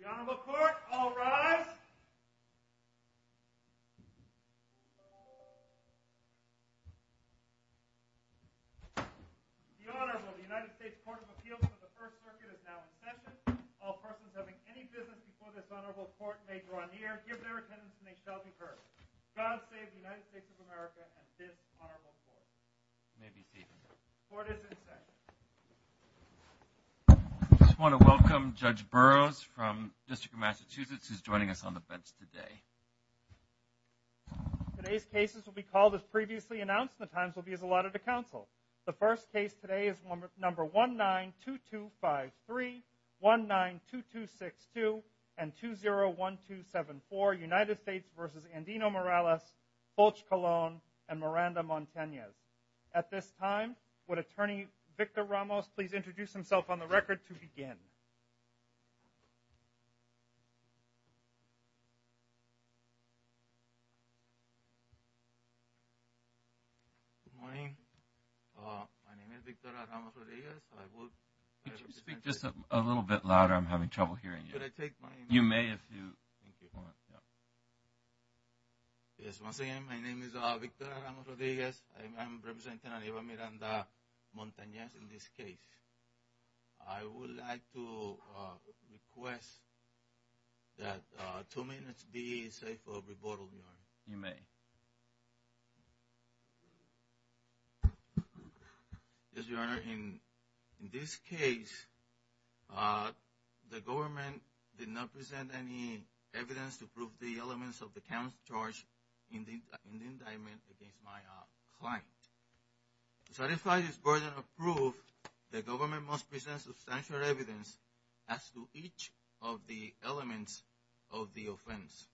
The Honorable Court, all rise. The Honorable United States Court of Appeals for the First Circuit is now in session. All persons having any business before this Honorable Court may draw near, give their attendance, and they shall be heard. God save the United States of America and this Honorable Court. May be seated. Court is in session. I just want to welcome Judge Burroughs from the District of Massachusetts, who's joining us on the bench today. Today's cases will be called as previously announced, and the times will be as allotted to counsel. The first case today is number 19-2253, 19-2262, and 20-1274, United States v. Andino-Morales, Fulch-Colon, and Miranda-Montanez. At this time, would Attorney Victor Ramos please introduce himself on the record to begin? Good morning. My name is Victor Ramos-Rodriguez. Could you speak just a little bit louder? I'm having trouble hearing you. Should I take my mic? You may if you want. Yes, once again, my name is Victor Ramos-Rodriguez. I'm representing Anibal Miranda-Montanez in this case. I would like to request that two minutes be saved for report only, Your Honor. You may. Yes, Your Honor. In this case, the government did not present any evidence to prove the elements of the count's charge in the indictment against my client. To satisfy this burden of proof, the government must present substantial evidence as to each of the elements of the offense.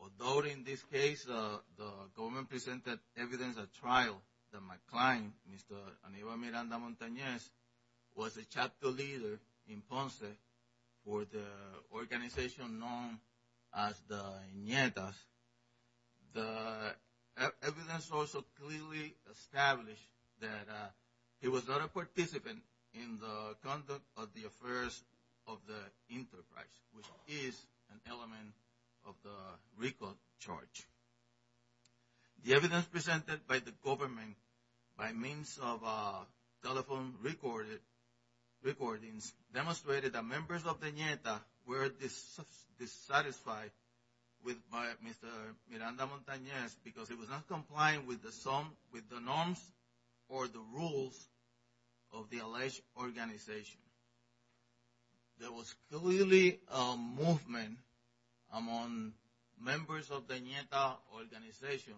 Although in this case, the government presented evidence at trial that my client, Mr. Anibal Miranda-Montanez, was a chapter leader in Ponce for the organization known as the Nietas, the evidence also clearly established that he was not a participant in the conduct of the affairs of the enterprise, which is an element of the recall charge. The evidence presented by the government by means of telephone recordings demonstrated that members of the Nietas were dissatisfied with Mr. Miranda-Montanez because he was not complying with the norms or the rules of the alleged organization. There was clearly a movement among members of the Nietas organization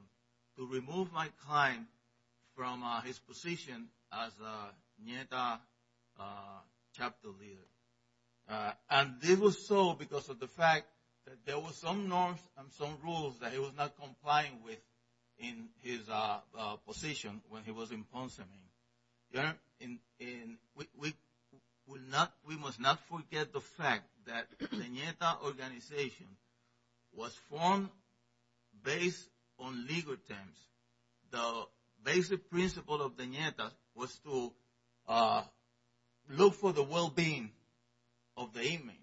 to remove my client from his position as a Nietas chapter leader. And this was so because of the fact that there were some norms and some rules that he was not complying with in his position when he was in Ponce. We must not forget the fact that the Nietas organization was formed based on legal terms. The basic principle of the Nietas was to look for the well-being of the inmates.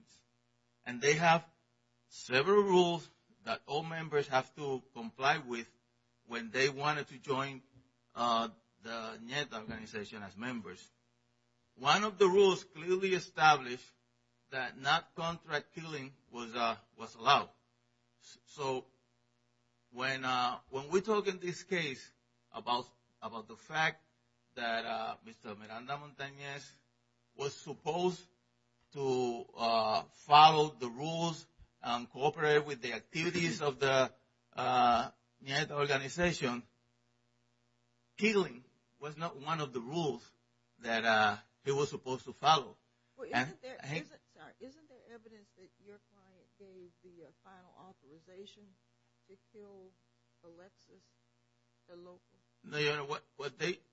And they have several rules that all members have to comply with when they wanted to join the Nietas organization as members. One of the rules clearly established that not contract killing was allowed. So when we talk in this case about the fact that Mr. Miranda-Montanez was supposed to follow the rules and cooperate with the activities of the Nietas organization, killing was not one of the rules that he was supposed to follow. Isn't there evidence that your client gave the final authorization to kill Alexis DeLuca? No, Your Honor.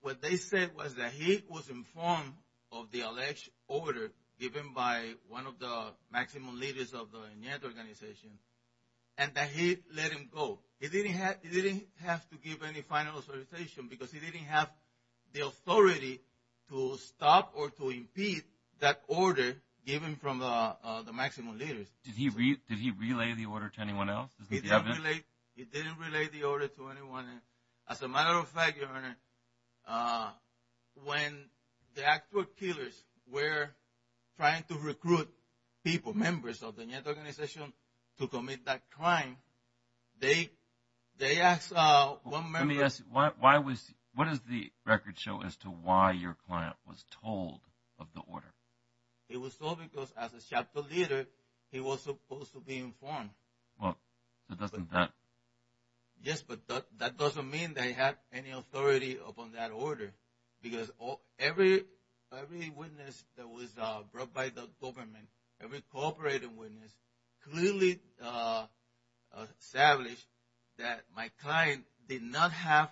What they said was that he was informed of the alleged order given by one of the maximum leaders of the Nietas organization and that he let him go. He didn't have to give any final authorization because he didn't have the authority to stop or to impede that order given from the maximum leaders. Did he relay the order to anyone else? He didn't relay the order to anyone else. As a matter of fact, Your Honor, when the actual killers were trying to recruit people, members of the Nietas organization, to commit that crime, they asked one member… Let me ask you, what does the record show as to why your client was told of the order? He was told because as a chapter leader, he was supposed to be informed. Well, doesn't that… Yes, but that doesn't mean they had any authority upon that order because every witness that was brought by the government, every cooperating witness, clearly established that my client did not have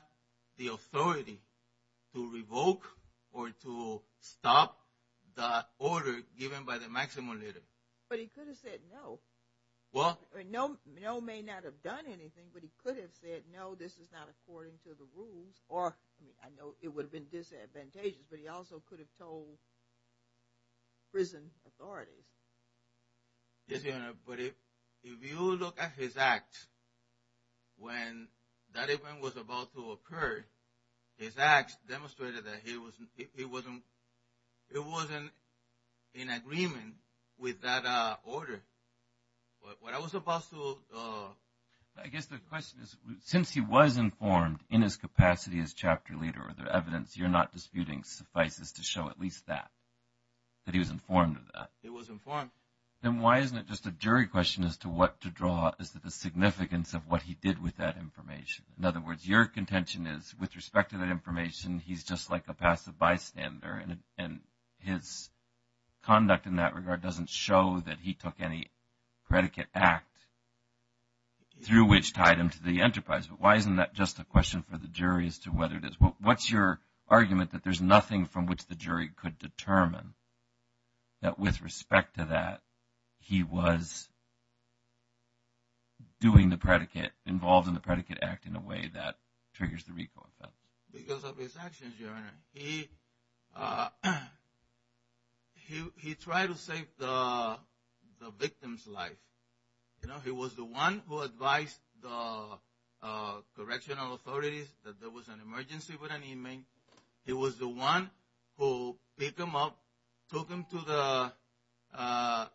the authority to revoke or to stop the order given by the maximum leader. But he could have said no. Well… No may not have done anything, but he could have said no, this is not according to the rules, or I know it would have been disadvantageous, but he also could have told prison authorities. Yes, Your Honor, but if you look at his act, when that event was about to occur, his act demonstrated that he wasn't in agreement with that order. What I was about to… I guess the question is, since he was informed in his capacity as chapter leader, are there evidence you're not disputing suffices to show at least that, that he was informed of that? It was informed. Then why isn't it just a jury question as to what to draw as to the significance of what he did with that information? In other words, your contention is, with respect to that information, he's just like a passive bystander, and his conduct in that regard doesn't show that he took any predicate act through which tied him to the enterprise. But why isn't that just a question for the jury as to whether it is? What's your argument that there's nothing from which the jury could determine that with respect to that, he was doing the predicate, involved in the predicate act in a way that triggers the RICO effect? Because of his actions, Your Honor. He tried to save the victim's life. He was the one who advised the correctional authorities that there was an emergency with an inmate. He was the one who picked him up, took him to the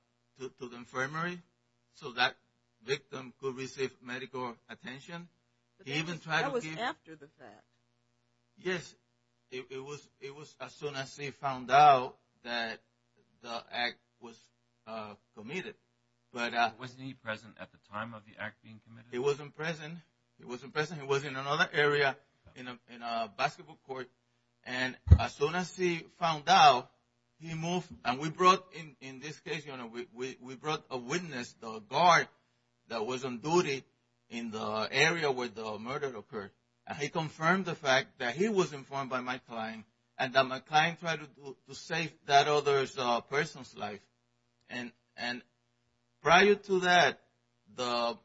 infirmary so that victim could receive medical attention. That was after the fact. Yes, it was as soon as he found out that the act was committed. Wasn't he present at the time of the act being committed? He wasn't present. He wasn't present. He was in another area in a basketball court. And as soon as he found out, he moved. And we brought, in this case, Your Honor, we brought a witness, the guard that was on duty in the area where the murder occurred. And he confirmed the fact that he was informed by my client and that my client tried to save that other person's life. And prior to that, the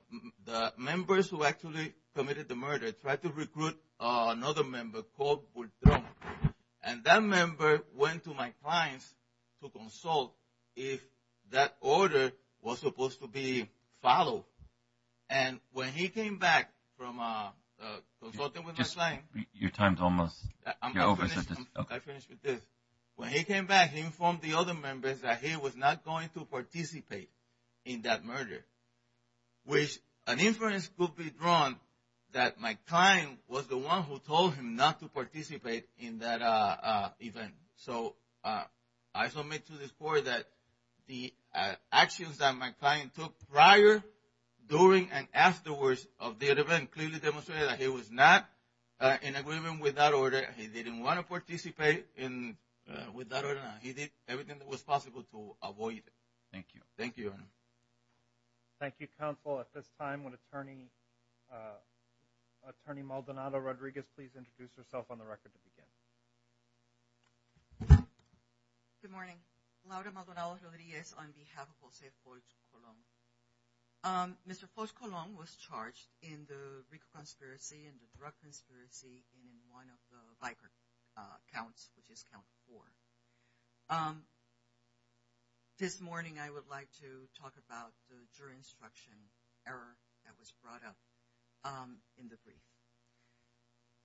members who actually committed the murder tried to recruit another member called Bourdon. And that member went to my clients to consult if that order was supposed to be followed. And when he came back from consulting with my client. Your time is almost over. I finished with this. When he came back, he informed the other members that he was not going to participate in that murder, which an inference could be drawn that my client was the one who told him not to participate in that event. So I submit to this court that the actions that my client took prior, during, and afterwards of the event clearly demonstrated that he was not in agreement with that order. He didn't want to participate with that order. He did everything that was possible to avoid it. Thank you. Thank you, Your Honor. Thank you, counsel. At this time, would Attorney Maldonado-Rodriguez please introduce herself on the record to begin. Good morning. Laura Maldonado-Rodriguez on behalf of Jose Folch-Colón. Mr. Folch-Colón was charged in the RICO conspiracy, in the drug conspiracy, and in one of the Viper counts, which is count four. This morning, I would like to talk about the jury instruction error that was brought up in the brief.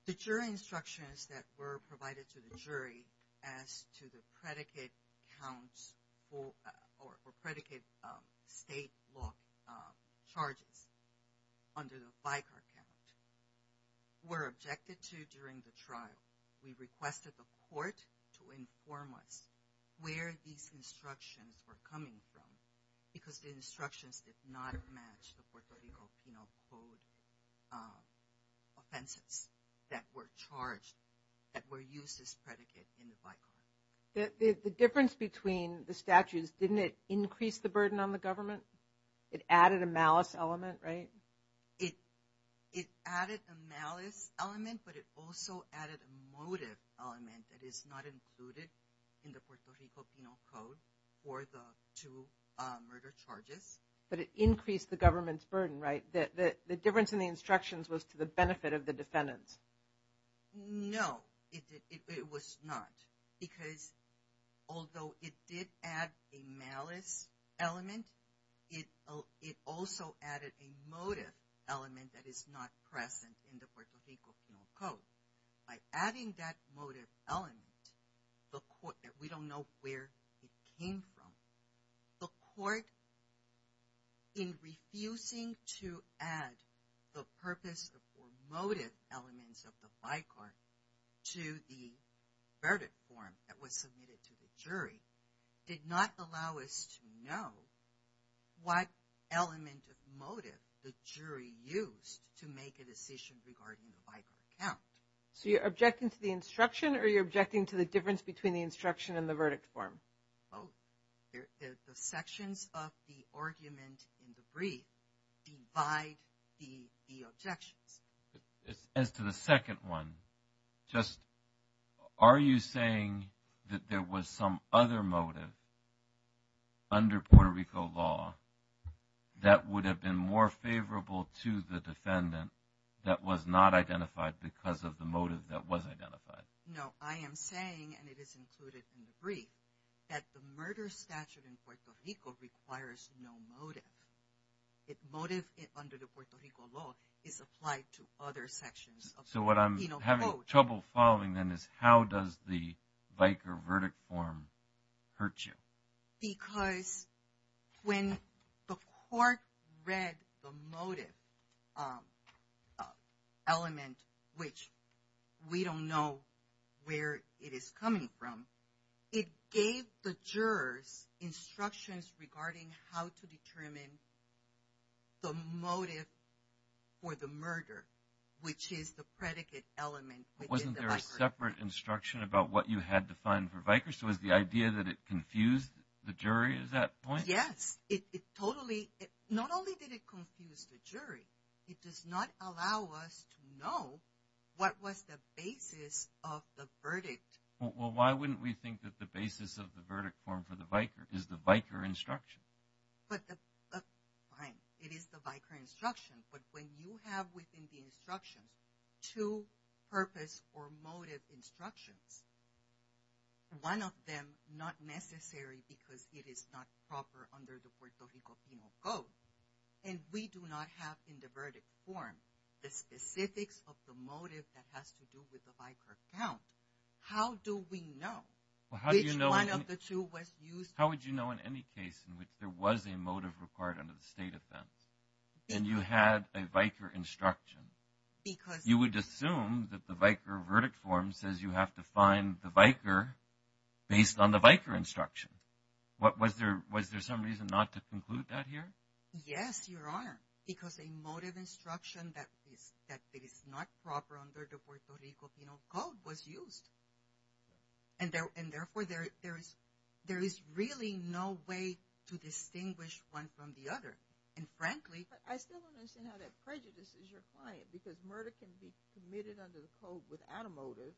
The jury instructions that were provided to the jury as to the predicate counts or predicate state law charges under the Vicar Count were objected to during the trial. We requested the court to inform us where these instructions were coming from because the instructions did not match the Puerto Rico penal code offenses that were charged, that were used as predicate in the Vicar Count. The difference between the statutes, didn't it increase the burden on the government? It added a malice element, right? It added a malice element, but it also added a motive element that is not included in the Puerto Rico penal code for the two murder charges. But it increased the government's burden, right? The difference in the instructions was to the benefit of the defendants. No, it was not, because although it did add a malice element, it also added a motive element that is not present in the Puerto Rico penal code. By adding that motive element, we don't know where it came from. The court, in refusing to add the purpose or motive elements of the Vicar to the verdict form that was submitted to the jury, did not allow us to know what element of motive the jury used to make a decision regarding the Vicar Count. So you're objecting to the instruction or you're objecting to the difference between the instruction and the verdict form? Both. The sections of the argument in the brief divide the objections. As to the second one, just are you saying that there was some other motive under Puerto Rico law that would have been more favorable to the defendant that was not identified because of the motive that was identified? No, I am saying, and it is included in the brief, that the murder statute in Puerto Rico requires no motive. Motive under the Puerto Rico law is applied to other sections of the penal code. So what I'm having trouble following then is how does the Vicar verdict form hurt you? Because when the court read the motive element, which we don't know where it is coming from, it gave the jurors instructions regarding how to determine the motive for the murder, which is the predicate element. Wasn't there a separate instruction about what you had to find for Vicar? So was the idea that it confused the jury? Is that the point? Yes. It totally, not only did it confuse the jury, it does not allow us to know what was the basis of the verdict. Well, why wouldn't we think that the basis of the verdict form for the Vicar is the Vicar instruction? Fine, it is the Vicar instruction, but when you have within the instruction two purpose or motive instructions, one of them not necessary because it is not proper under the Puerto Rico penal code, and we do not have in the verdict form the specifics of the motive that has to do with the Vicar count, how do we know which one of the two was used? How would you know in any case in which there was a motive required under the state offense and you had a Vicar instruction? You would assume that the Vicar verdict form says you have to find the Vicar based on the Vicar instruction. Was there some reason not to conclude that here? Yes, Your Honor, because a motive instruction that is not proper under the Puerto Rico penal code was used, and therefore there is really no way to distinguish one from the other, and frankly But I still don't understand how that prejudices your client because murder can be committed under the code without a motive,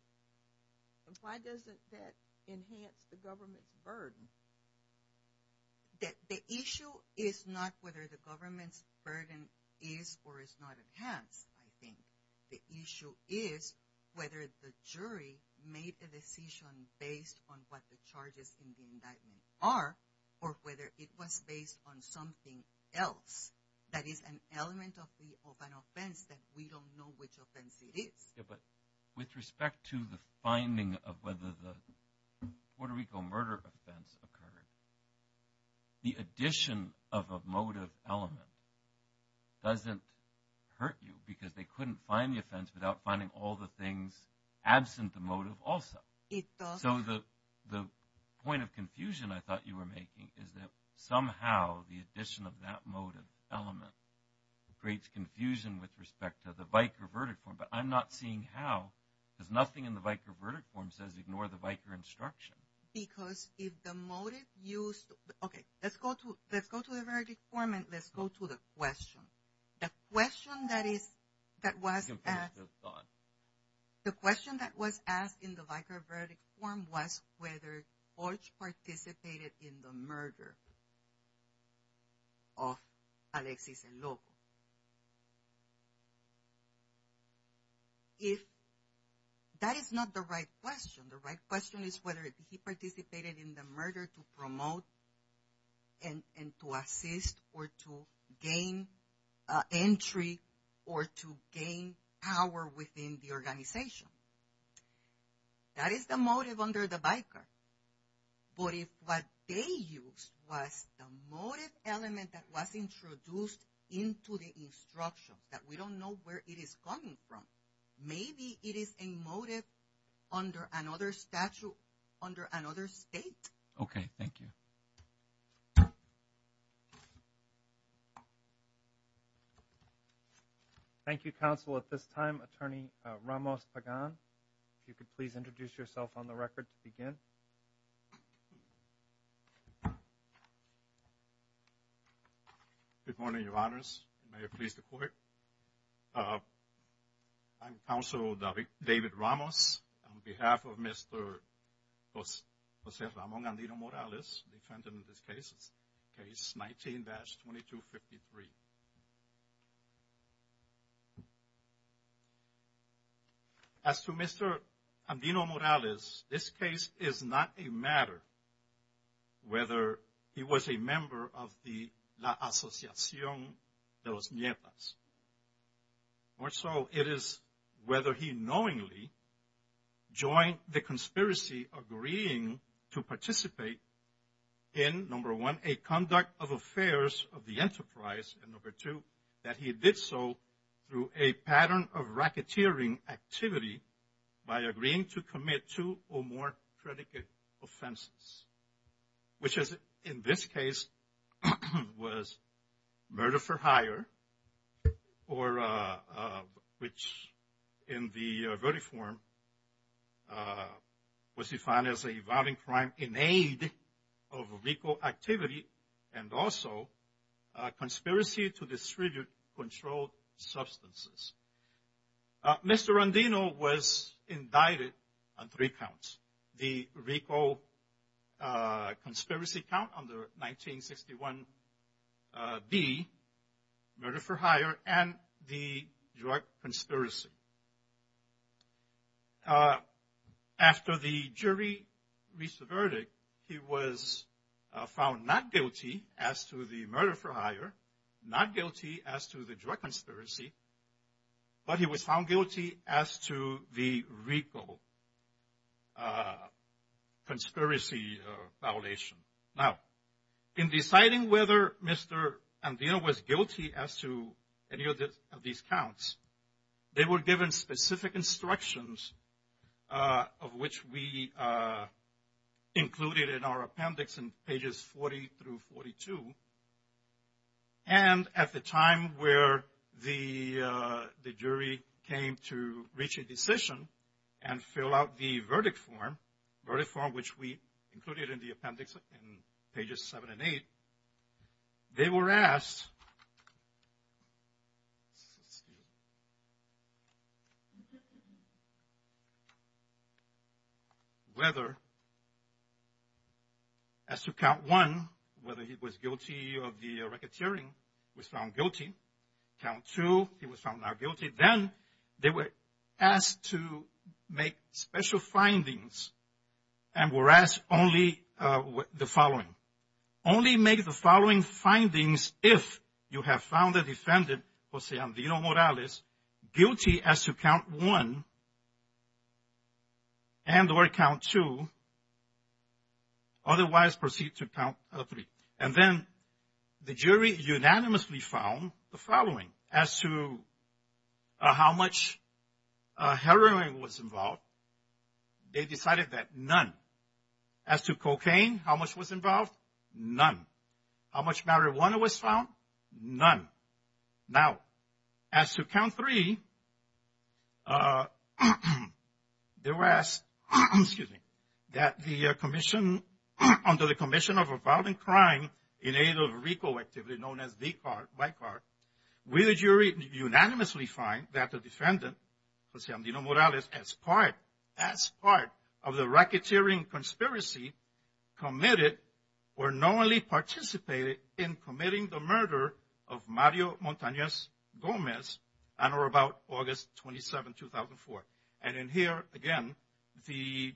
and why doesn't that enhance the government's burden? The issue is not whether the government's burden is or is not enhanced, I think. The issue is whether the jury made a decision based on what the charges in the indictment are or whether it was based on something else that is an element of an offense that we don't know which offense it is. But with respect to the finding of whether the Puerto Rico murder offense occurred, the addition of a motive element doesn't hurt you because they couldn't find the offense without finding all the things absent the motive also. So the point of confusion I thought you were making is that somehow the addition of that motive element creates confusion with respect to the Vicar verdict form, but I'm not seeing how because nothing in the Vicar verdict form says ignore the Vicar instruction. Because if the motive used, okay, let's go to the verdict form and let's go to the question. The question that was asked in the Vicar verdict form was whether Orch participated in the murder of Alexis Enloco. If that is not the right question, the right question is whether he participated in the murder to promote and to assist or to gain entry or to gain power within the organization. That is the motive under the Vicar. But if what they used was the motive element that was introduced into the instruction that we don't know where it is coming from, maybe it is a motive under another statute, under another state. Okay, thank you. Thank you, Counsel. At this time, Attorney Ramos Pagan, if you could please introduce yourself on the record to begin. Good morning, Your Honors. May it please the Court. I'm Counsel David Ramos on behalf of Mr. Jose Ramon Andino Morales, defendant in this case, case 19-2253. As to Mr. Andino Morales, this case is not a matter whether he was a member of the La Asociación de los Nietas. More so, it is whether he knowingly joined the conspiracy agreeing to participate in, number one, a conduct of affairs of the enterprise, and number two, that he did so through a pattern of racketeering activity by agreeing to commit two or more predicate offenses. Which is, in this case, was murder for hire, which in the very form was defined as a violent crime in aid of legal activity and also conspiracy to distribute controlled substances. Mr. Andino was indicted on three counts, the RICO conspiracy count on the 1961B, murder for hire, and the drug conspiracy. After the jury reached the verdict, he was found not guilty as to the murder for hire, not guilty as to the drug conspiracy, but he was found guilty as to the RICO conspiracy violation. Now, in deciding whether Mr. Andino was guilty as to any of these counts, they were given specific instructions of which we included in our appendix in pages 40 through 42. And at the time where the jury came to reach a decision and fill out the verdict form, which we included in the appendix in pages seven and eight, they were asked whether, as to count one, whether he was guilty or not. He was found guilty of the racketeering, was found guilty. Count two, he was found not guilty. Then they were asked to make special findings and were asked only the following. Only make the following findings if you have found the defendant, Jose Andino Morales, guilty as to count one and or count two, otherwise proceed to count three. And then the jury unanimously found the following. As to how much heroin was involved, they decided that none. As to cocaine, how much was involved? None. How much marijuana was found? None. Now, as to count three, they were asked, excuse me, that the commission, under the commission of a violent crime in aid of a recall activity known as V-card, white card, we, the jury, unanimously find that the defendant, Jose Andino Morales, as part, as part of the racketeering conspiracy committed or knowingly participated in committing the murder of Mario Montanez Gomez on or about August 27, 2004. And in here, again, the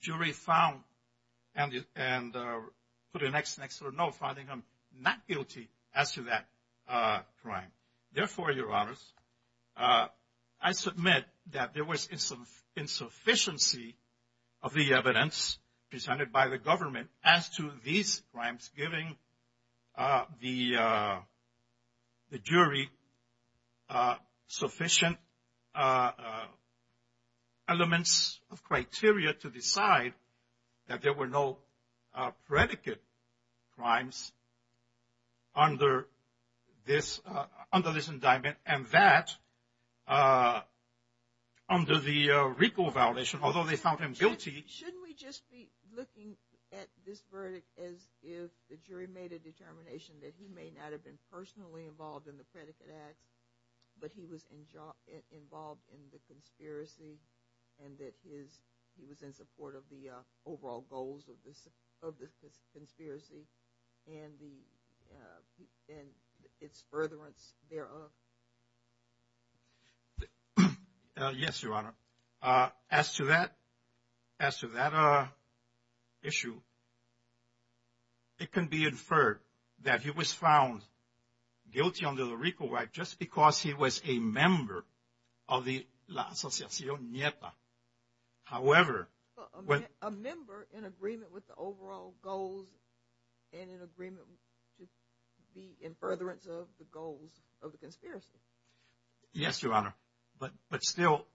jury found and put an X next to the no, finding him not guilty as to that crime. Now, there were elements of criteria to decide that there were no predicate crimes under this, under this indictment, and that under the recall violation, although they found him guilty. Shouldn't we just be looking at this verdict as if the jury made a determination that he may not have been personally involved in the predicate act, but he was involved in the conspiracy and that his, he was in support of the overall goals of this, of this conspiracy and the, and its furtherance thereof? Yes, Your Honor. As to that, as to that issue, it can be inferred that he was found guilty under the recall right just because he was a member of the La Asociación Nieta. However, a member in agreement with the overall goals and in agreement to be in furtherance of the goals of the conspiracy. Yes, Your Honor. But, but still,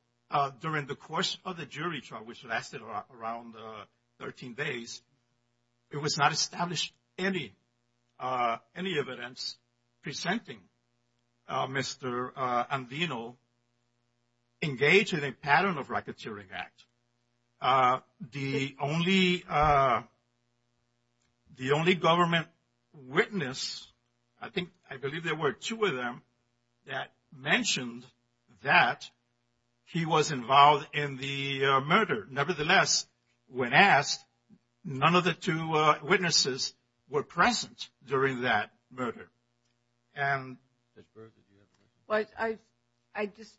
during the course of the jury trial, which lasted around 13 days, it was not established any, any evidence presenting Mr. Andino engaged in a pattern of racketeering act. The only, the only government witness, I think, I believe there were two of them, that mentioned that he was involved in the murder. Nevertheless, when asked, none of the two witnesses were present during that murder. Well, I, I just,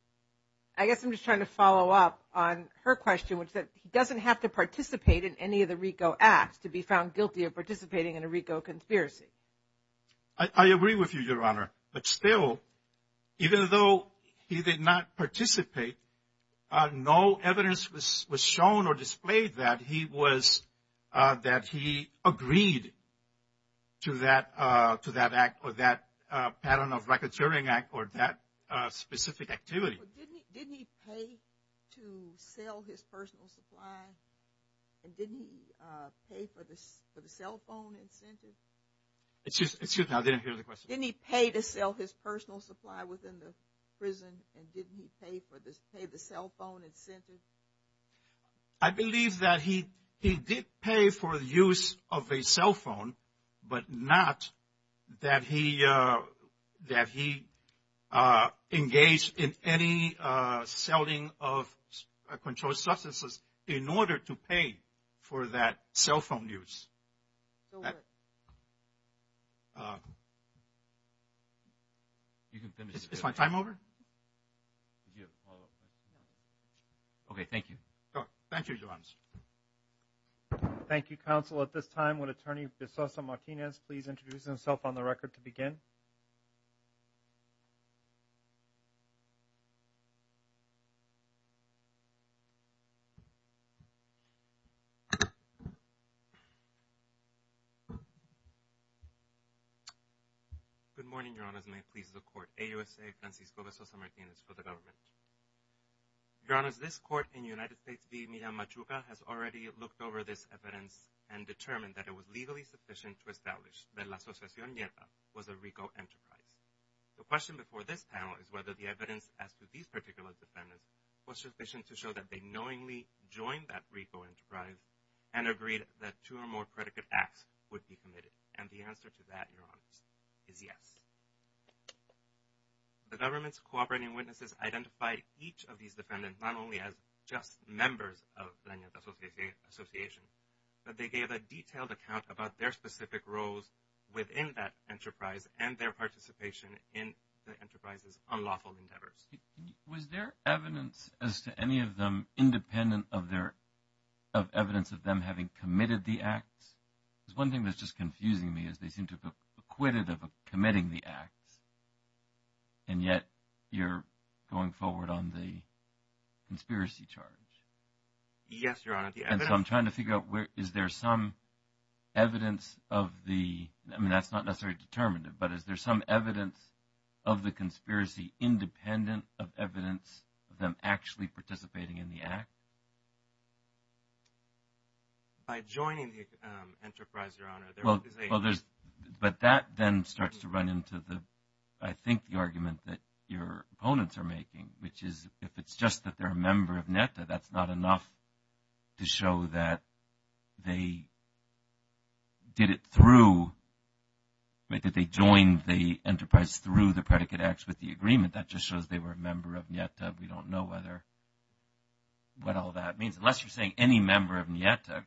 I guess I'm just trying to follow up on her question, which is that he doesn't have to participate in any of the RICO acts to be found guilty of participating in a RICO conspiracy. I, I agree with you, Your Honor. But still, even though he did not participate, no evidence was, was shown or displayed that he was, that he agreed to that, to that act or that pattern of racketeering act or that specific activity. But didn't he, didn't he pay to sell his personal supply? And didn't he pay for the, for the cell phone incentive? Excuse me, I didn't hear the question. Didn't he pay to sell his personal supply within the prison? And didn't he pay for the, pay the cell phone incentive? I believe that he, he did pay for the use of a cell phone, but not that he, that he engaged in any selling of controlled substances in order to pay for that cell phone use. Is my time over? Okay, thank you. Thank you, Counsel. At this time, would Attorney DeSosa-Martinez please introduce himself on the record to begin? Good morning, Your Honors. May it please the Court. AUSA Francisco DeSosa-Martinez for the Government. Your Honors, this Court in the United States v. Miriam Machuca has already looked over this evidence and determined that it was legally sufficient to establish that La Asociación Nieta was a RICO enterprise. The question before this panel is whether the evidence as to these particular defendants was sufficient to show that they knowingly joined that RICO enterprise and agreed that two or more predicate acts would be committed. And the answer to that, Your Honors, is yes. The government's cooperating witnesses identified each of these defendants not only as just members of La Asociación Nieta, but they gave a detailed account about their specific roles within that enterprise and their participation in the enterprise's unlawful endeavors. Was there evidence as to any of them independent of evidence of them having committed the acts? Because one thing that's just confusing me is they seem to have acquitted of committing the acts, and yet you're going forward on the conspiracy charge. Yes, Your Honor. And so I'm trying to figure out where – is there some evidence of the – I mean, that's not necessarily determinative, but is there some evidence of the conspiracy independent of evidence of them actually participating in the act? By joining the enterprise, Your Honor, there is a – that they did it through – that they joined the enterprise through the predicate acts with the agreement. That just shows they were a member of Nieta. We don't know whether – what all that means. Unless you're saying any member of Nieta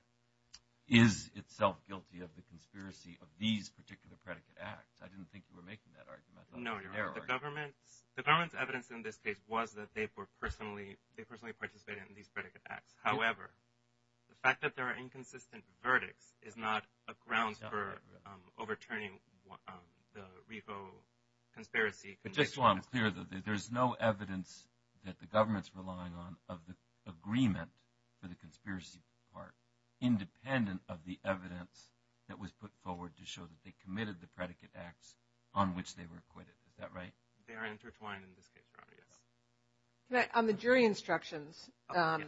is itself guilty of the conspiracy of these particular predicate acts. I didn't think you were making that argument. No, Your Honor. The government's evidence in this case was that they personally participated in these predicate acts. However, the fact that there are inconsistent verdicts is not a ground for overturning the refo conspiracy. But just so I'm clear, there's no evidence that the government's relying on of the agreement for the conspiracy part independent of the evidence that was put forward to show that they committed the predicate acts on which they were acquitted. Is that right? They are intertwined in this case, Your Honor, yes. On the jury instructions, I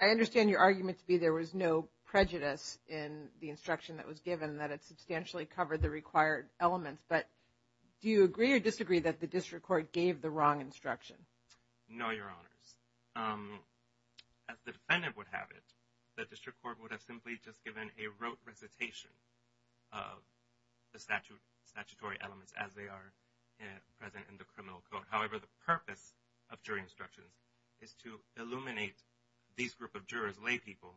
understand your argument to be there was no prejudice in the instruction that was given that it substantially covered the required elements. But do you agree or disagree that the district court gave the wrong instruction? No, Your Honors. As the defendant would have it, the district court would have simply just given a rote recitation of the statutory elements as they are present in the criminal code. However, the purpose of jury instructions is to illuminate these group of jurors, lay people,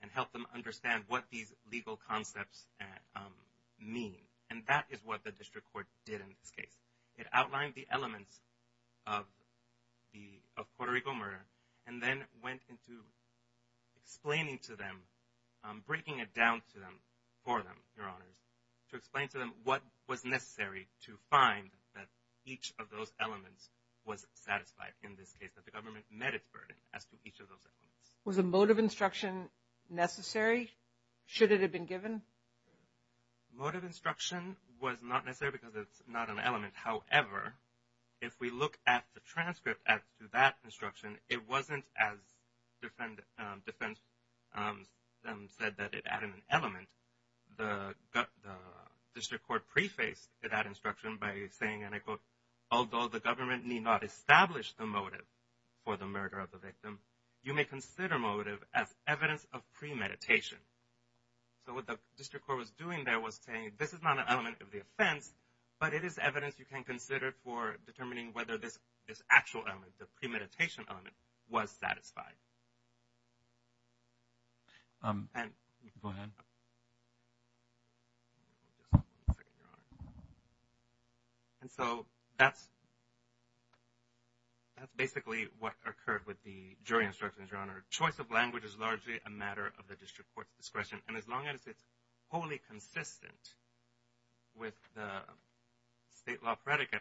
and help them understand what these legal concepts mean. And that is what the district court did in this case. It outlined the elements of the Puerto Rico murder and then went into explaining to them, breaking it down to them, for them, Your Honors, to explain to them what was necessary to find that each of those elements was satisfied in this case, that the government met its burden as to each of those elements. Was a motive instruction necessary? Should it have been given? Motive instruction was not necessary because it's not an element. However, if we look at the transcript to that instruction, it wasn't as defendants said that it added an element. The district court prefaced that instruction by saying, and I quote, although the government need not establish the motive for the murder of the victim, you may consider motive as evidence of premeditation. So what the district court was doing there was saying, this is not an element of the offense, but it is evidence you can consider for determining whether this actual element, the premeditation element, was satisfied. And so that's basically what occurred with the jury instructions, Your Honor. Choice of language is largely a matter of the district court's discretion, and as long as it's wholly consistent with the state law predicate,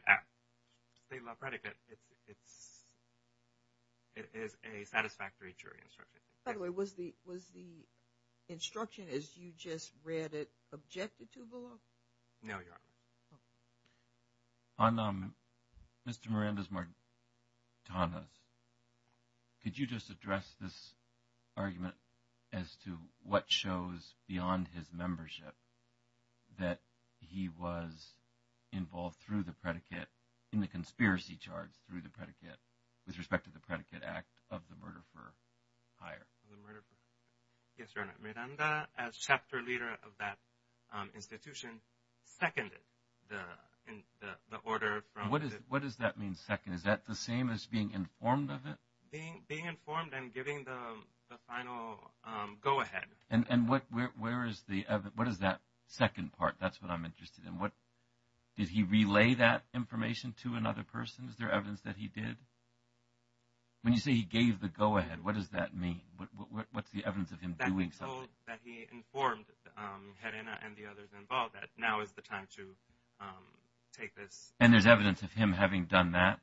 it is a satisfactory jury instruction. By the way, was the instruction as you just read it objected to, below? No, Your Honor. On Mr. Miranda's martinez, could you just address this argument as to what shows beyond his membership that he was involved through the predicate in the conspiracy charge through the predicate with respect to the predicate act of the murder for hire? Yes, Your Honor. Miranda, as chapter leader of that institution, seconded the order. What does that mean, second? Is that the same as being informed of it? Being informed and giving the final go-ahead. And what is that second part? That's what I'm interested in. Did he relay that information to another person? Is there evidence that he did? When you say he gave the go-ahead, what does that mean? What's the evidence of him doing something? That he informed Helena and the others involved that now is the time to take this. And there's evidence of him having done that?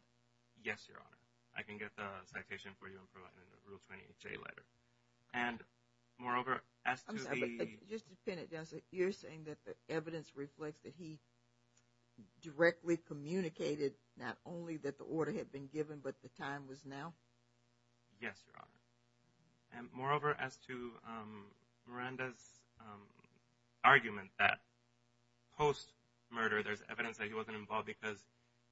Yes, Your Honor. I can get the citation for you in the Rule 28J letter. And moreover, as to the… Just to pin it down, so you're saying that the evidence reflects that he directly communicated not only that the order had been given, but the time was now? Yes, Your Honor. And moreover, as to Miranda's argument that post-murder there's evidence that he wasn't involved because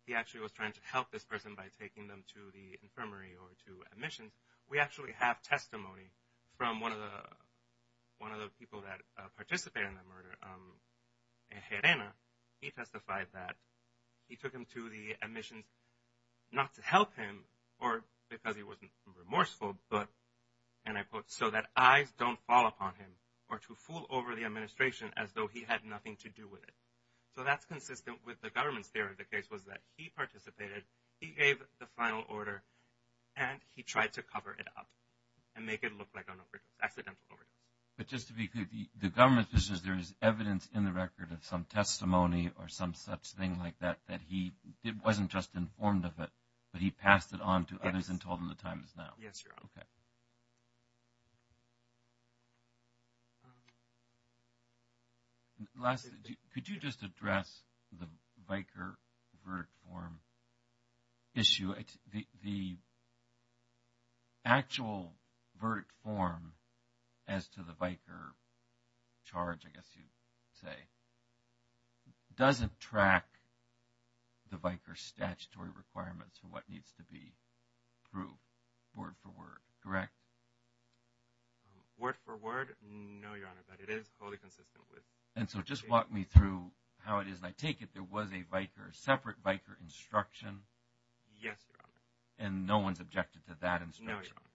he actually was trying to help this person by taking them to the infirmary or to admissions, we actually have testimony from one of the people that participated in the murder, Helena. He testified that he took them to the admissions not to help him or because he wasn't remorseful, but, and I quote, so that eyes don't fall upon him or to fool over the administration as though he had nothing to do with it. So that's consistent with the government's theory of the case was that he participated, he gave the final order, and he tried to cover it up and make it look like an accidental order. But just to be clear, the government just says there is evidence in the record of some testimony or some such thing like that that he, it wasn't just informed of it, but he passed it on to others and told them the time is now? Yes, Your Honor. Okay. Word for word? No, Your Honor, but it is wholly consistent with the case. And so just walk me through how it is, and I take it there was a VIKR, a separate VIKR instruction? Yes, Your Honor. And no one's objected to that instruction? No, Your Honor.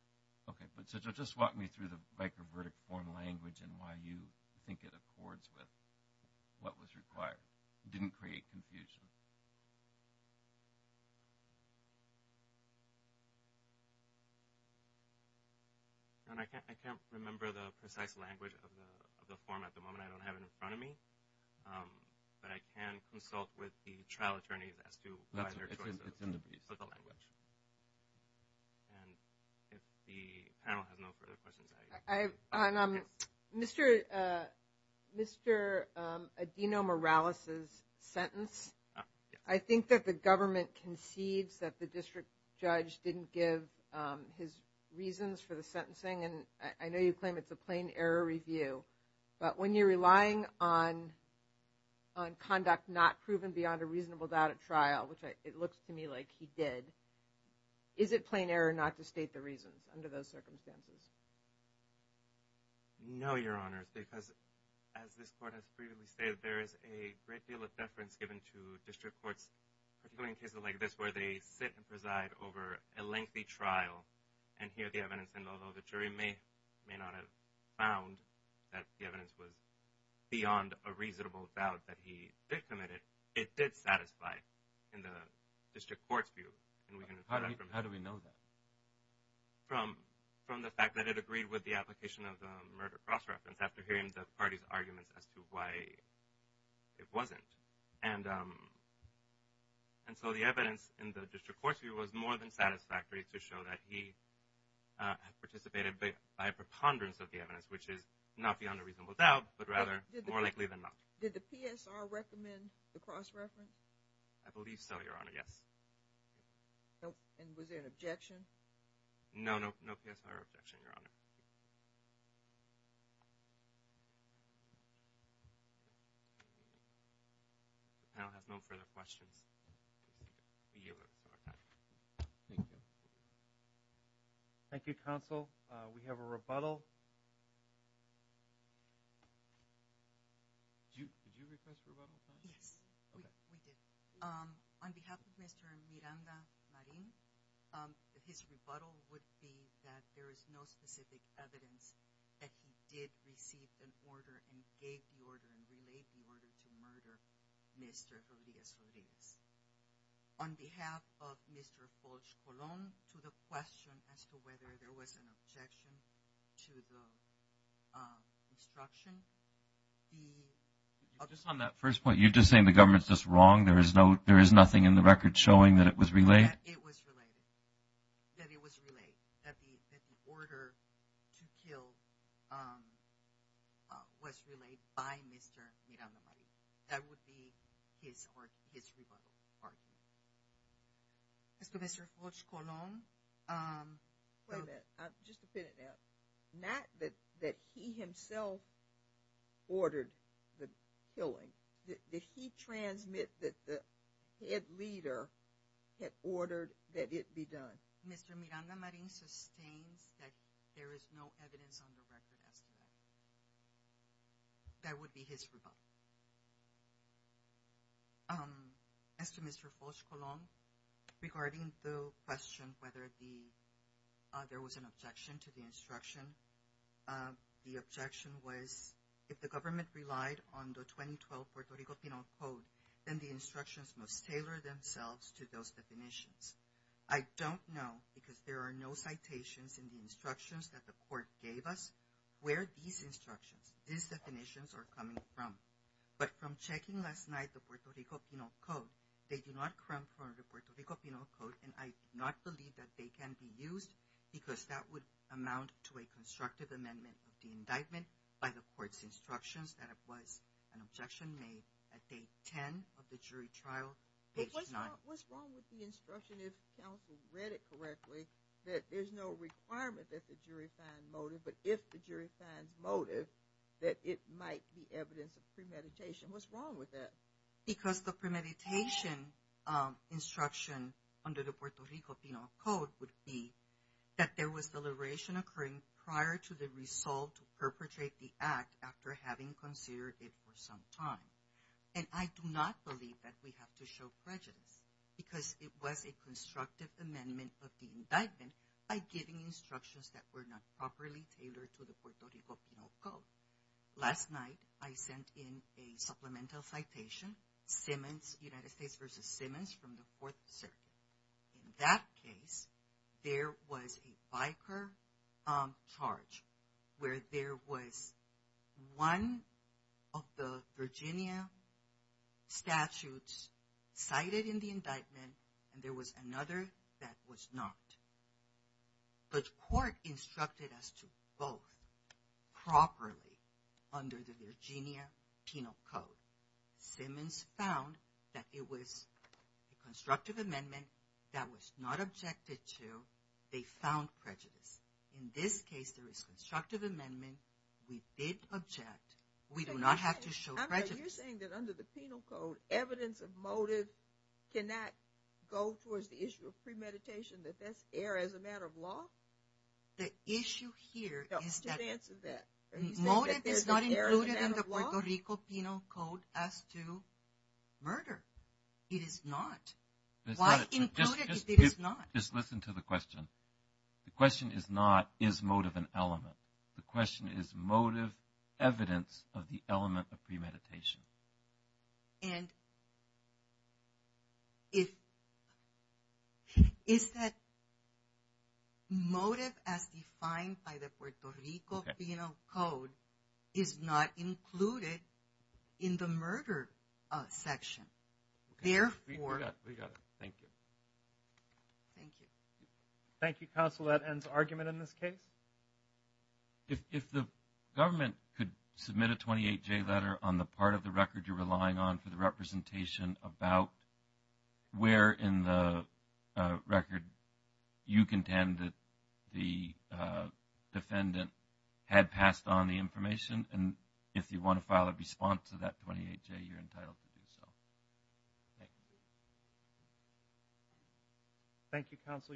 Okay. So just walk me through the VIKR verdict form language and why you think it accords with what was required. It didn't create confusion. Your Honor, I can't remember the precise language of the form at the moment. I don't have it in front of me. But I can consult with the trial attorneys as to why their choice of the language. And if the panel has no further questions. On Mr. Adino Morales' sentence, I think that the government concedes that the district judge didn't give his reasons for the sentencing. And I know you claim it's a plain error review. But when you're relying on conduct not proven beyond a reasonable doubt at trial, which it looks to me like he did, is it plain error not to state the reasons under those circumstances? No, Your Honor, because as this Court has previously stated, there is a great deal of deference given to district courts, particularly in cases like this where they sit and preside over a lengthy trial and hear the evidence. And although the jury may not have found that the evidence was beyond a reasonable doubt that he did commit it, it did satisfy in the district court's view. How do we know that? From the fact that it agreed with the application of the murder cross-reference after hearing the party's arguments as to why it wasn't. And so the evidence in the district court's view was more than satisfactory to show that he had participated by a preponderance of the evidence, which is not beyond a reasonable doubt, but rather more likely than not. Did the PSR recommend the cross-reference? I believe so, Your Honor, yes. And was there an objection? No, no PSR objection, Your Honor. I'll have no further questions. Thank you, Counsel. We have a rebuttal. Did you request a rebuttal? Yes, we did. On behalf of Mr. Miranda Marin, his rebuttal would be that there is no specific evidence that he did receive an order and gave the order and relayed the order to murder Mr. Elias Ruiz. On behalf of Mr. Folch Colon, to the question as to whether there was an objection to the instruction, the— Just on that first point, you're just saying the government's just wrong? There is nothing in the record showing that it was relayed? That it was relayed, that the order to kill was relayed by Mr. Miranda Marin. That would be his rebuttal. As to Mr. Folch Colon— Wait a minute, just a minute now. Not that he himself ordered the killing. Did he transmit that the head leader had ordered that it be done? Mr. Miranda Marin sustains that there is no evidence on the record as to that. That would be his rebuttal. As to Mr. Folch Colon, regarding the question whether there was an objection to the instruction, the objection was if the government relied on the 2012 Puerto Rico Penal Code, then the instructions must tailor themselves to those definitions. I don't know, because there are no citations in the instructions that the court gave us, where these instructions, these definitions are coming from. But from checking last night the Puerto Rico Penal Code, they do not come from the Puerto Rico Penal Code, and I do not believe that they can be used, because that would amount to a constructive amendment of the indictment by the court's instructions that it was an objection made at day 10 of the jury trial, page 9. But what's wrong with the instruction, if counsel read it correctly, that there's no requirement that the jury find motive, but if the jury finds motive, that it might be evidence of premeditation. What's wrong with that? Because the premeditation instruction under the Puerto Rico Penal Code would be that there was deliberation occurring prior to the resolve to perpetrate the act after having considered it for some time. And I do not believe that we have to show prejudice, because it was a constructive amendment of the indictment by giving instructions that were not properly tailored to the Puerto Rico Penal Code. Last night, I sent in a supplemental citation, Simmons, United States v. Simmons from the Fourth Circuit. In that case, there was a biker charge, where there was one of the Virginia statutes cited in the indictment, and there was another that was not. But court instructed us to vote properly under the Virginia Penal Code. Simmons found that it was a constructive amendment that was not objected to. They found prejudice. In this case, there is constructive amendment. We did object. We do not have to show prejudice. You're saying that under the Penal Code, evidence of motive cannot go towards the issue of premeditation, that that's air as a matter of law? The issue here is that motive is not included in the Puerto Rico Penal Code as to murder. It is not. Why include it if it is not? Just listen to the question. The question is not, is motive an element? The question is, is motive evidence of the element of premeditation? And is that motive as defined by the Puerto Rico Penal Code is not included in the murder section? We got it. Thank you. Thank you. Thank you, counsel. That ends argument in this case. If the government could submit a 28-J letter on the part of the record you're relying on for the representation about where in the record you contend that the defendant had passed on the information, and if you want to file a response to that 28-J, you're entitled to do so. Thank you. Thank you, counsel. You're excused.